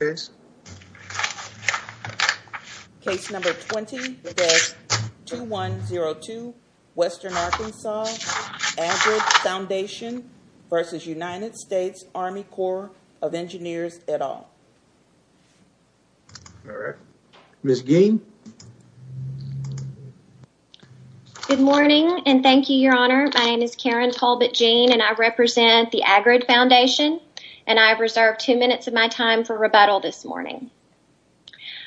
at all. All right. Ms. Geen. Good morning, and thank you, Your Honor. My name is Karen Talbot Geen, and I represent the Agrid Foundation, and I have reserved two minutes of my time for rebuttal this morning.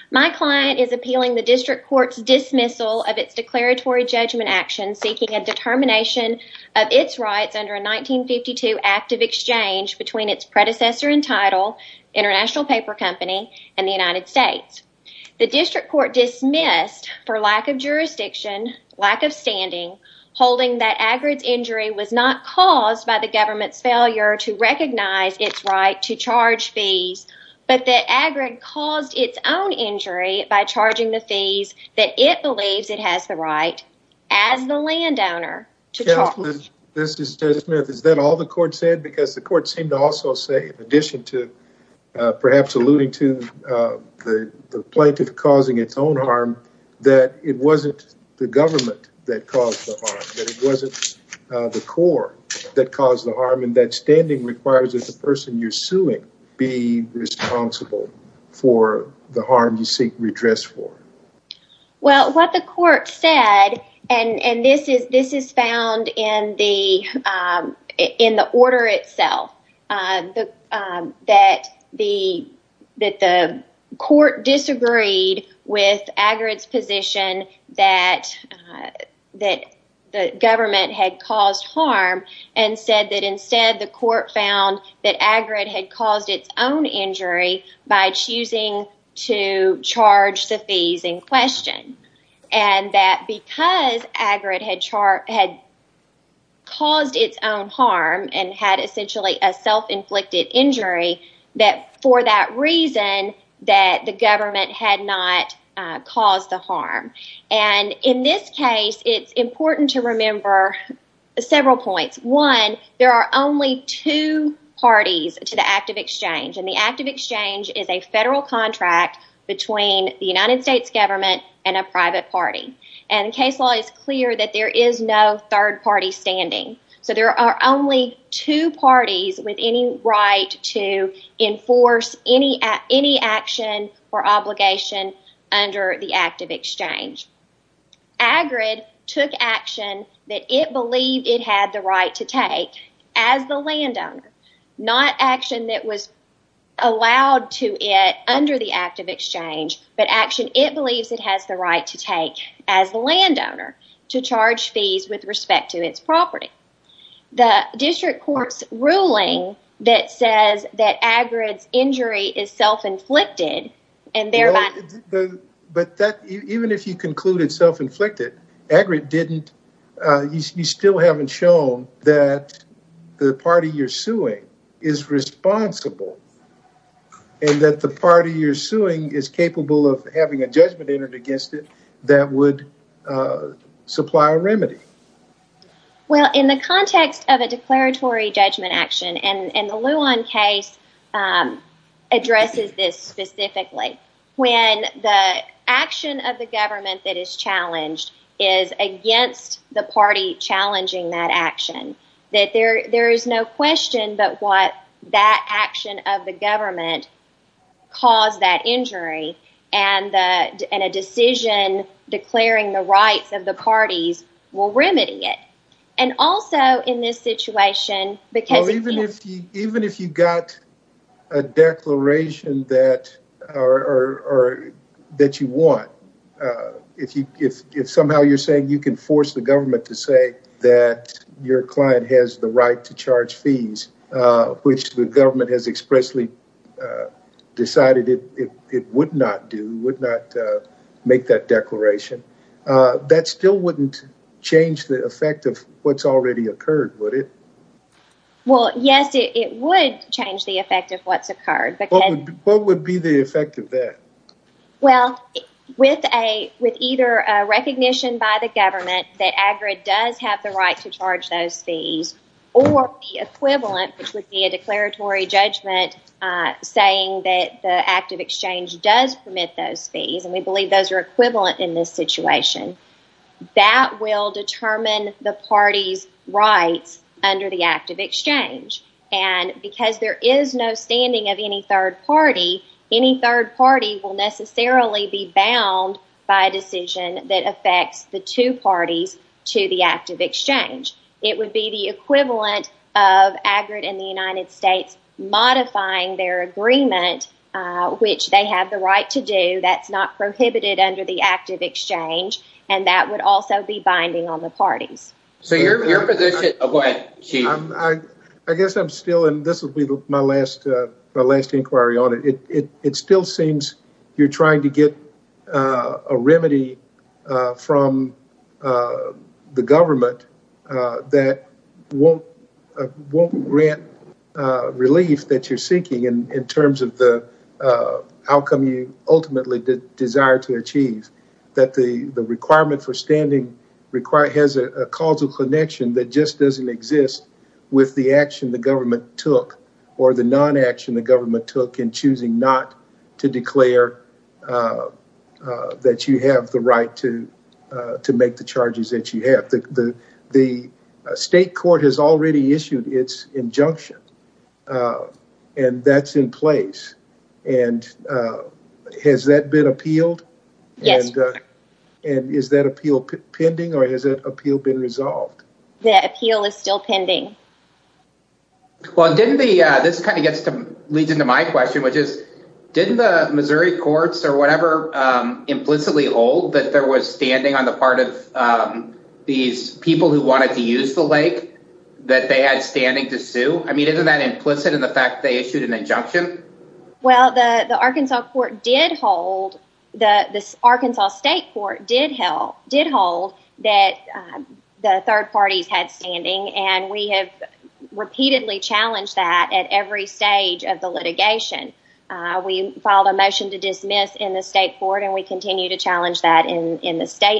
My client is appealing the district court's dismissal of its declaratory judgment action seeking a determination of its rights under a 1952 act of exchange between its predecessor and title, International Paper Company, and the United States. The district court dismissed for lack of jurisdiction, lack of standing, holding that Agrid's injury was not caused by the government's failure to recognize its right to charge fees, but that Agrid caused its own injury by charging the fees that it believes it has the right as the landowner to charge. Justice Smith, is that all the court said? Because the court seemed to also say, in addition to perhaps alluding to the plaintiff causing its own caused the harm, and that standing requires that the person you're suing be responsible for the harm you seek redress for. Well, what the court said, and this is found in the order itself, that the court disagreed with Agrid's position that the government had caused harm, and said that instead the court found that Agrid had caused its own injury by choosing to charge the fees in question, and that because Agrid had caused its own harm and had essentially a self-inflicted injury, that for that reason that the government had not caused the harm. And in this case, it's important to remember several points. One, there are only two parties to the Act of Exchange, and the Act of Exchange is a federal contract between the United States government and a private party, and case law is clear that there is no third party standing. So, there are only two parties with any right to enforce any action or obligation under the Act of Exchange. Agrid took action that it believed it had the right to take as the landowner, not action that was allowed to it under the Act of Exchange, but action it believes it has the right to take as the landowner to charge fees with respect to its property. The district court's ruling that says that Agrid's injury is self-inflicted and thereby... But even if you is responsible and that the party you're suing is capable of having a judgment entered against it, that would supply a remedy. Well, in the context of a declaratory judgment action, and the Luon case addresses this specifically, when the action of the government that is challenged is against the party challenging that action, that there is no question but what that action of the government caused that injury, and a decision declaring the rights of the parties will remedy it. And also in this situation, because... Well, even if you got a declaration that you want, if somehow you're saying you can force the government to say that your client has the right to charge fees, which the government has expressly decided it would not do, would not make that declaration, that still wouldn't change the effect of what's already occurred, would it? Well, yes, it would change the effect of what's occurred. What would be the effect of that? Well, with either a recognition by the government that Agrid does have the right to charge those fees, or the equivalent, which would be a declaratory judgment saying that the active exchange does permit those fees, and we believe those are under the active exchange. And because there is no standing of any third party, any third party will necessarily be bound by a decision that affects the two parties to the active exchange. It would be the equivalent of Agrid and the United States modifying their agreement, which they have the right to do, that's not prohibited under the active exchange, and that would also be binding on the parties. So your position... Oh, go ahead, Chief. I guess I'm still in... This will be my last inquiry on it. It still seems you're trying to get a remedy from the government that won't grant relief that you're seeking in terms of the ultimately desire to achieve, that the requirement for standing has a causal connection that just doesn't exist with the action the government took, or the non-action the government took in choosing not to declare that you have the right to make the charges that you have. The state court has already issued its injunction, and that's in place. And has that been appealed? Yes. And is that appeal pending, or has that appeal been resolved? That appeal is still pending. Well, this kind of leads into my question, which is, didn't the Missouri courts or whatever implicitly hold that there was standing on the part of these people who wanted to use the lake, that they had standing to sue? I mean, isn't that implicit in the fact that they issued an injunction? Well, the Arkansas state court did hold that the third parties had standing, and we have repeatedly challenged that at every stage of the litigation. We filed a motion to dismiss in the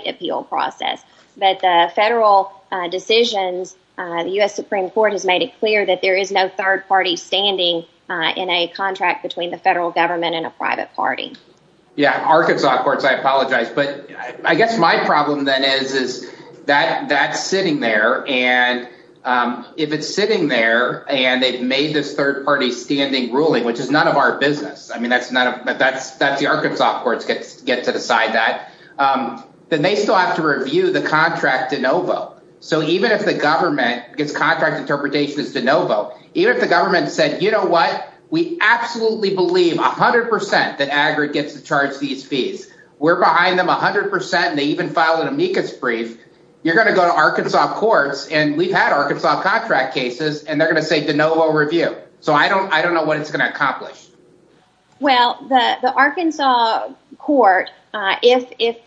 appeal process, but the federal decisions, the U.S. Supreme Court has made it clear that there is no third party standing in a contract between the federal government and a private party. Yeah, Arkansas courts, I apologize, but I guess my problem then is that that's sitting there, and if it's sitting there and they've made this third party standing ruling, which is none of our business, I mean, that's the Arkansas courts get to decide that, then they still have to review the contract de novo. So even if the government, because contract interpretation is de novo, even if the government said, you know what, we absolutely believe 100% that AGRA gets to charge these fees, we're behind them 100%, and they even filed an amicus brief, you're going to go to Arkansas courts, and we've had Arkansas contract cases, and they're going to say de novo review. So I don't know what it's going to accomplish. Well, the Arkansas court, if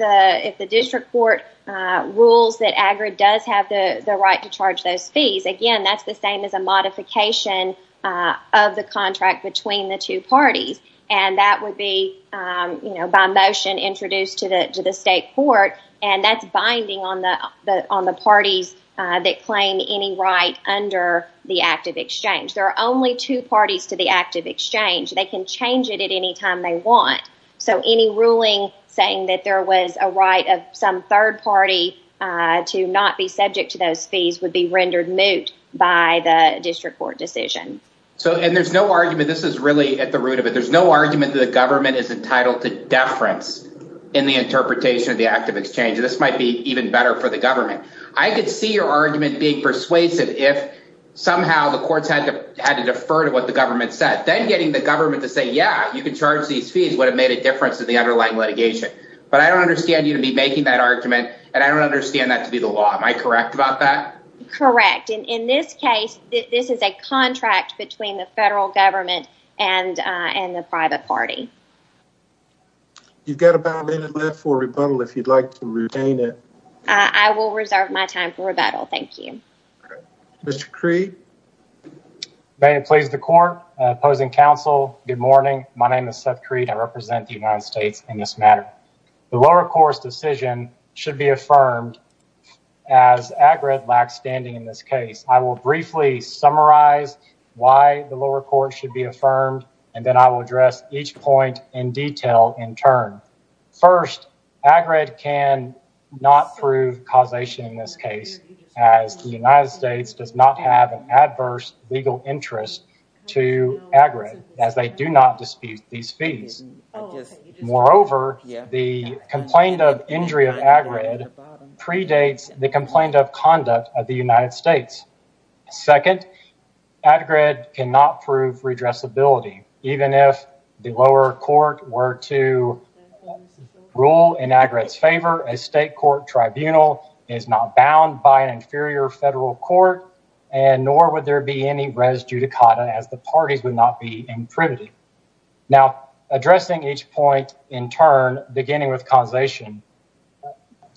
the district court rules that AGRA does have the right to charge those fees, again, that's the same as a modification of the contract between the two parties, and that would be, you know, by motion introduced to the state court, and that's binding on the parties that claim any right under the active exchange. There are only two parties to the change it at any time they want. So any ruling saying that there was a right of some third party to not be subject to those fees would be rendered moot by the district court decision. So and there's no argument, this is really at the root of it, there's no argument that the government is entitled to deference in the interpretation of the active exchange. This might be even better for the government. I could see your argument being persuasive if somehow the courts had to defer to what the government said, then getting the government yeah, you can charge these fees would have made a difference in the underlying litigation. But I don't understand you to be making that argument, and I don't understand that to be the law. Am I correct about that? Correct. In this case, this is a contract between the federal government and the private party. You've got about a minute left for rebuttal if you'd like to retain it. I will reserve my time for rebuttal. Thank you. Mr. Cree? May it please the court. Opposing counsel, good morning. My name is Seth Cree, I represent the United States in this matter. The lower court's decision should be affirmed as AGRED lacks standing in this case. I will briefly summarize why the lower court should be affirmed, and then I will address each point in detail in turn. First, AGRED can not prove causation in this case as the United States does not have an adverse legal interest to AGRED as they do not dispute these fees. Moreover, the complaint of injury of AGRED predates the complaint of conduct of the United States. Second, AGRED cannot prove redressability. Even if the lower court were to rule in AGRED's favor, a state court tribunal is not bound by an inferior federal court, and nor would there be any res judicata as the parties would not be imprimitive. Now, addressing each point in turn, beginning with causation,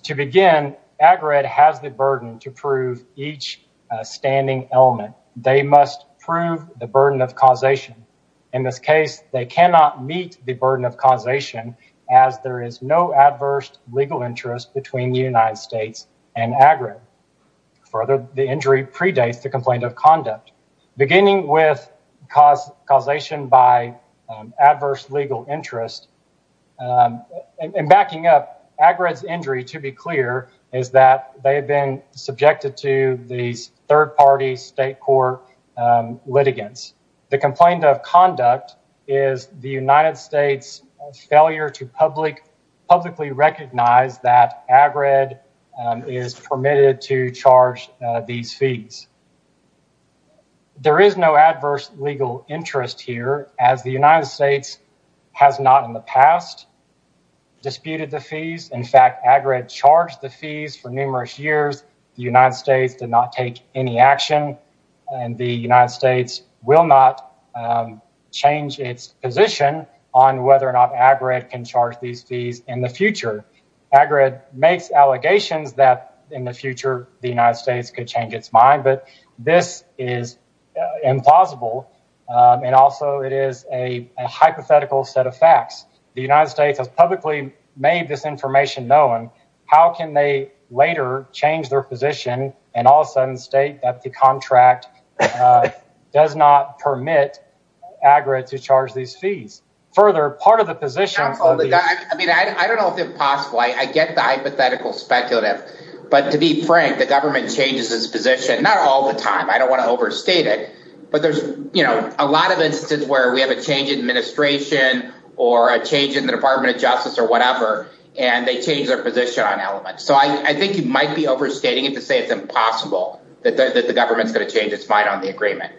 to begin, AGRED has the burden to prove each standing element. They must prove the burden of causation. In this case, they cannot meet the burden of causation as there is no adverse legal interest between the United States and AGRED. Further, the injury predates the complaint of conduct. Beginning with causation by adverse legal interest, and backing up, AGRED's injury, to be clear, is that they have been the United States' failure to publicly recognize that AGRED is permitted to charge these fees. There is no adverse legal interest here as the United States has not in the past disputed the fees. In fact, AGRED charged the fees for numerous years. The United States did not take any action, and the United States will not change its position on whether or not AGRED can charge these fees in the future. AGRED makes allegations that in the future the United States could change its mind, but this is implausible, and also it is a hypothetical set of facts. The United States has publicly made this information known. How can they later change their position and all of a sudden state that the contract does not permit AGRED to charge these fees? Further, part of the position... I don't know if it's possible. I get the hypothetical speculative, but to be frank, the government changes its position not all the time. I don't want to overstate it, but there's a lot of instances where we have a change in administration or a change in the Department of Justice or whatever, and they change their position on it to say it's impossible, that the government's going to change its mind on the agreement.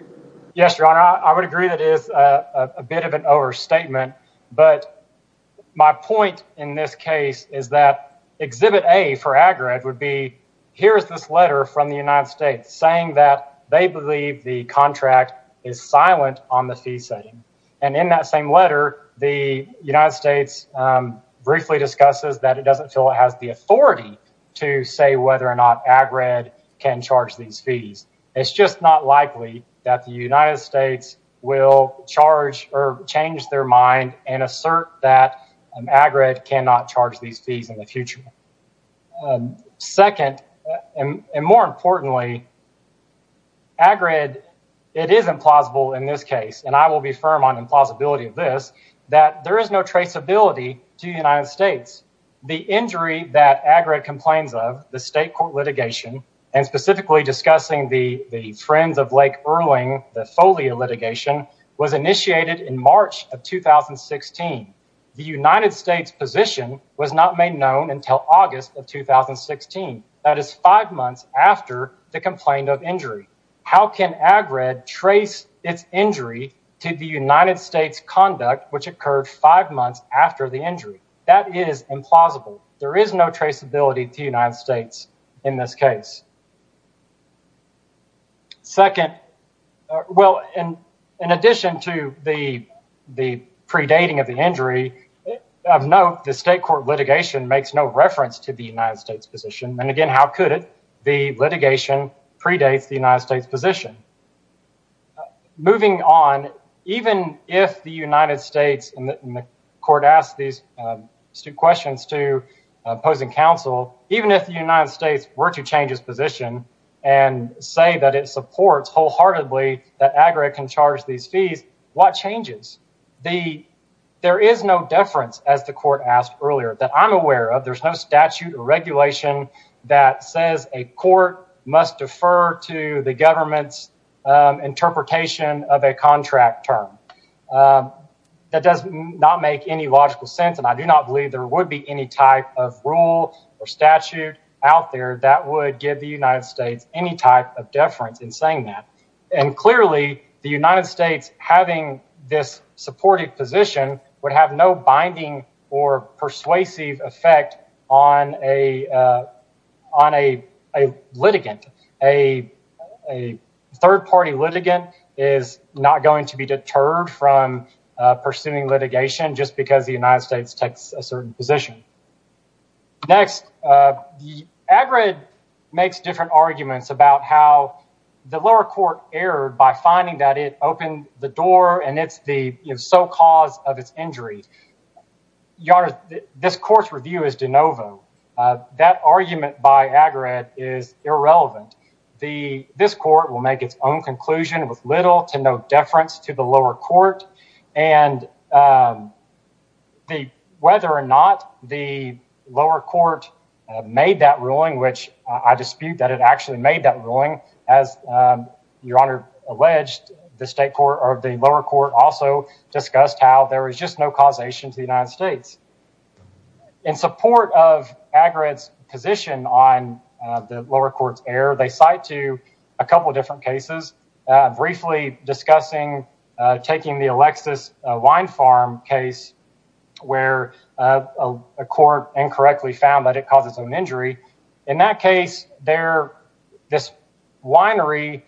Yes, Your Honor, I would agree that is a bit of an overstatement, but my point in this case is that Exhibit A for AGRED would be, here is this letter from the United States saying that they believe the contract is silent on the fee setting, and in that same letter, the United States briefly discusses that it doesn't feel it has the authority to say whether or not AGRED can charge these fees. It's just not likely that the United States will charge or change their mind and assert that AGRED cannot charge these fees in the future. Second, and more importantly, AGRED, it is implausible in this case, and I will be firm on implausibility of this, that there is no traceability to the United States. The injury that AGRED complains of, the state court litigation, and specifically discussing the Friends of Lake Irwin, the FOLIA litigation, was initiated in March of 2016. The United States position was not made known until August of 2016. That is five months after the complaint of injury. How can AGRED trace its injury to the United States conduct, which occurred five months after the injury? That is implausible. There is no traceability to the United States in this case. Second, well, in addition to the predating of the injury, of note, the state court litigation makes no reference to the United States position, and again, how could it? The litigation predates the United States position. Moving on, even if the United States, and the court asked these questions to opposing counsel, even if the United States were to change its position and say that it supports wholeheartedly that AGRED can charge these fees, what changes? There is no deference, as the court asked earlier, that I'm aware of. There's no statute or regulation that says a court must defer to the governments interpretation of a contract term. That does not make any logical sense, and I do not believe there would be any type of rule or statute out there that would give the United States any type of deference in saying that. And clearly, the United States having this supportive position would have no binding or persuasive effect on a litigant. A third-party litigant is not going to be deterred from pursuing litigation just because the United States takes a certain position. Next, AGRED makes different arguments about how the lower court erred by finding that it opened the door and it's the sole cause of its injury. Your Honor, this court's review is de novo. That argument by AGRED is irrelevant. This court will make its own conclusion with little to no deference to the lower court. And whether or not the lower court made that ruling, which I dispute that it actually made that ruling, as Your Honor alleged, the lower court also discussed how there was just no causation to the United States. In support of AGRED's position on the lower court's error, they cite to a couple different cases, briefly discussing taking the Alexis Wine Farm case where a court incorrectly found that it causes an injury. In that case, this winery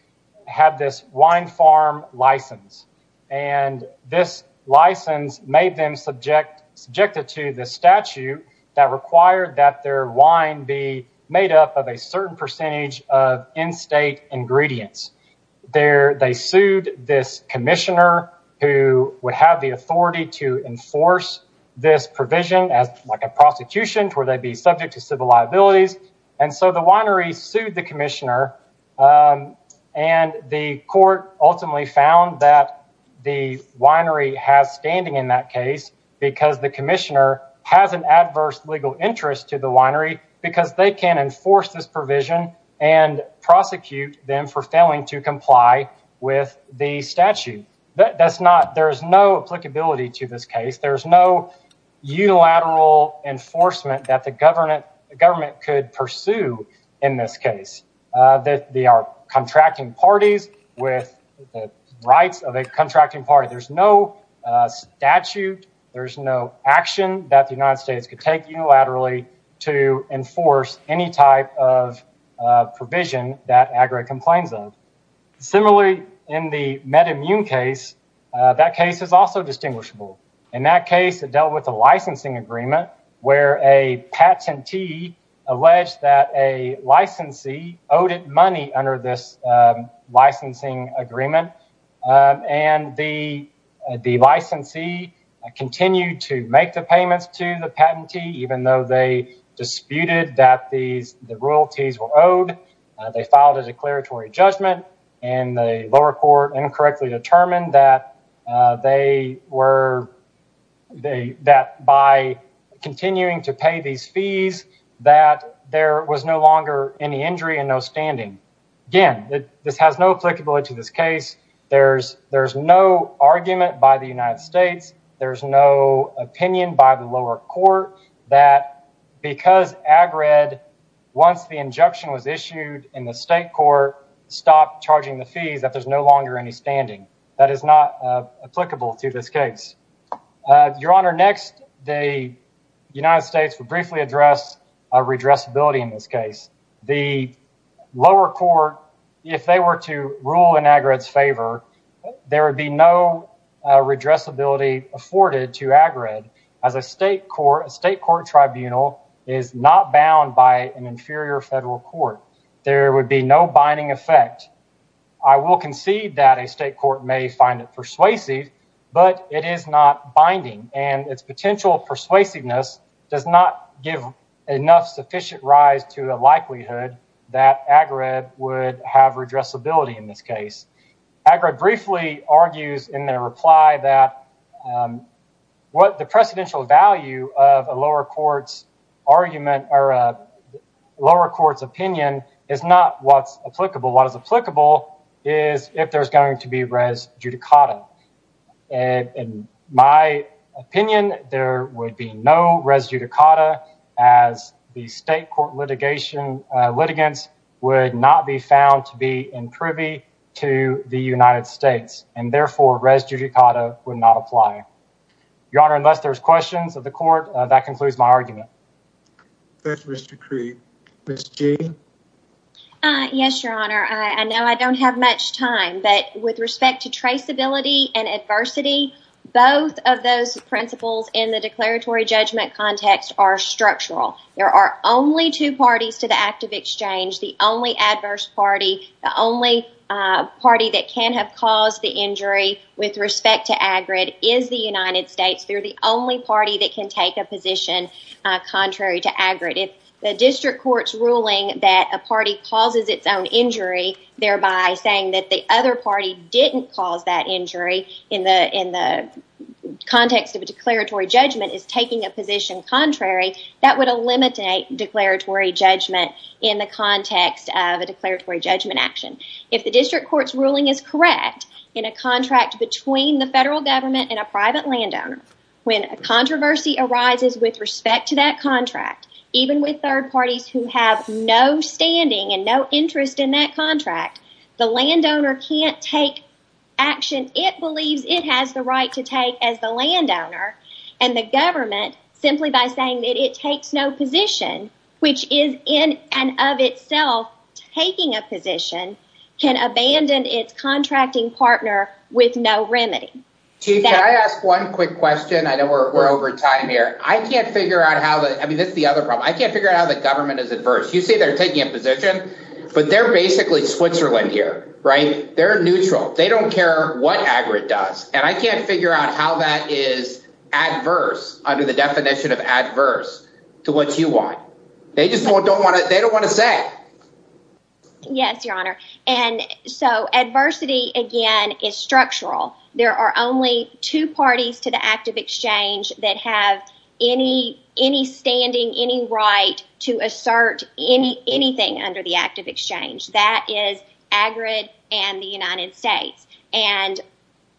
had this wine farm license. And this license made them subjected to the statute that required that their wine be made up of a certain percentage of in-state ingredients. They sued this commissioner who would have the authority to enforce this provision as like a prosecution where they'd be subject to civil liabilities. And so the winery sued the commissioner. And the court ultimately found that the winery has standing in that case because the commissioner has an adverse legal interest to the winery because they can enforce this provision and prosecute them for failing to comply with the statute. There's no applicability to this case. There's no unilateral enforcement that the government could pursue in this case. They are contracting parties with the rights of a contracting party. There's no statute. There's no action that the United Similarly, in the MedImmune case, that case is also distinguishable. In that case, it dealt with a licensing agreement where a patentee alleged that a licensee owed it money under this licensing agreement. And the licensee continued to make the payments to the patentee, even though they disputed that the royalties were owed. They filed a declaratory judgment, and the lower court incorrectly determined that by continuing to pay these fees, that there was no longer any injury and no standing. Again, this has no applicability to this case. There's no argument by the United States. There's no opinion by the lower court that because AGRED, once the injunction was issued in the state court, stopped charging the fees, that there's no longer any standing. That is not applicable to this case. Your Honor, next, the United States would briefly address redressability in this case. The lower court, if they were to rule in AGRED's favor, there would be no redressability afforded to AGRED, as a state court tribunal is not bound by an inferior federal court. There would be no binding effect. I will concede that a state court may find it persuasive, but it is not binding, and its potential persuasiveness does not give enough sufficient rise to the likelihood that AGRED would have redressability in this case. AGRED briefly argues in their reply that the precedential value of a lower court's opinion is not what's applicable. What is applicable is if there's going to be res judicata. In my opinion, there would be no res judicata, as the state court litigants would not be found to be imprivy to the United States, and therefore, res judicata would not apply. Your Honor, unless there's questions of the court, that concludes my argument. Thank you, Mr. Cree. Ms. Jayden? Yes, Your Honor. I know I don't have much time, but with respect to traceability and adversity, both of those principles in the declaratory judgment context are structural. There are only two parties to the act of exchange, the only adverse party, the only party that can have caused the injury with respect to AGRED is the United States. They're the only party that can take a position contrary to AGRED. If the district court's ruling that a party causes its own injury, thereby saying that the other party didn't cause that injury in the context of a declaratory judgment is taking a position contrary, that would eliminate declaratory judgment in the context of a declaratory judgment action. If the district court's ruling is correct in a contract between the federal government and a private landowner, when a controversy arises with respect to that contract, even with third parties who have no standing and no interest in that contract, the landowner can't take action it takes no position, which is in and of itself taking a position, can abandon its contracting partner with no remedy. Chief, can I ask one quick question? I know we're over time here. I can't figure out how the government is adverse. You say they're taking a position, but they're basically Switzerland here, right? They're neutral. They don't care what AGRED does, and I can't figure out how that is adverse under the definition of adverse to what you want. They just don't want to say. Yes, your honor. Adversity, again, is structural. There are only two parties to the active exchange that have any standing, any right to assert anything under the active exchange. That is AGRED and the United States. And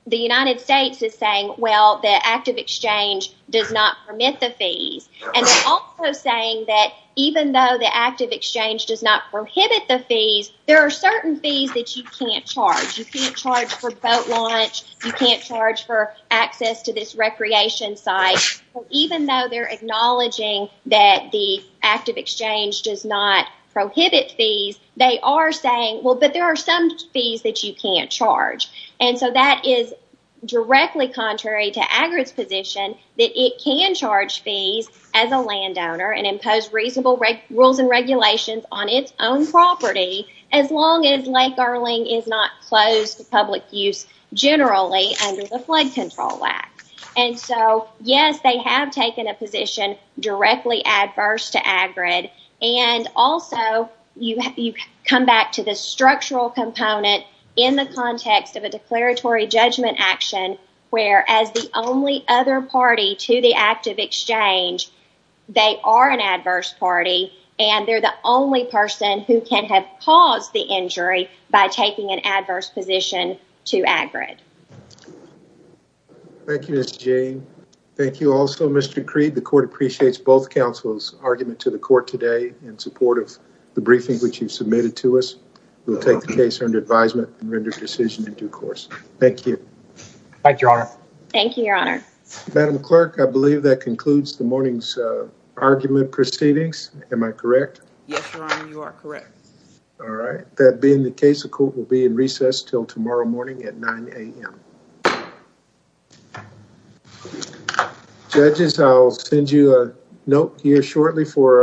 the United States is saying, well, the active exchange does not permit the fees. And they're also saying that even though the active exchange does not prohibit the fees, there are certain fees that you can't charge. You can't charge for boat launch. You can't charge for access to this recreation site. Even though they're acknowledging that the active exchange does not prohibit fees, they are saying, well, but there are some fees that you can't charge. And so that is directly contrary to AGRED's position that it can charge fees as a landowner and impose reasonable rules and regulations on its own property as long as Lake Erling is not closed to public use generally under the Flood Control Act. And so, yes, they have taken a And also, you come back to the structural component in the context of a declaratory judgment action where, as the only other party to the active exchange, they are an adverse party and they're the only person who can have caused the injury by taking an adverse position to AGRED. Thank you, Ms. Jane. Thank you also, Mr. Creed. The court appreciates both in support of the briefing which you've submitted to us. We'll take the case under advisement and render decision in due course. Thank you. Thank you, Your Honor. Thank you, Your Honor. Madam Clerk, I believe that concludes the morning's argument proceedings. Am I correct? Yes, Your Honor, you are correct. All right. That being the case, the court will be in recess till tomorrow morning at 9 a.m. Judges, I'll send you a note here shortly for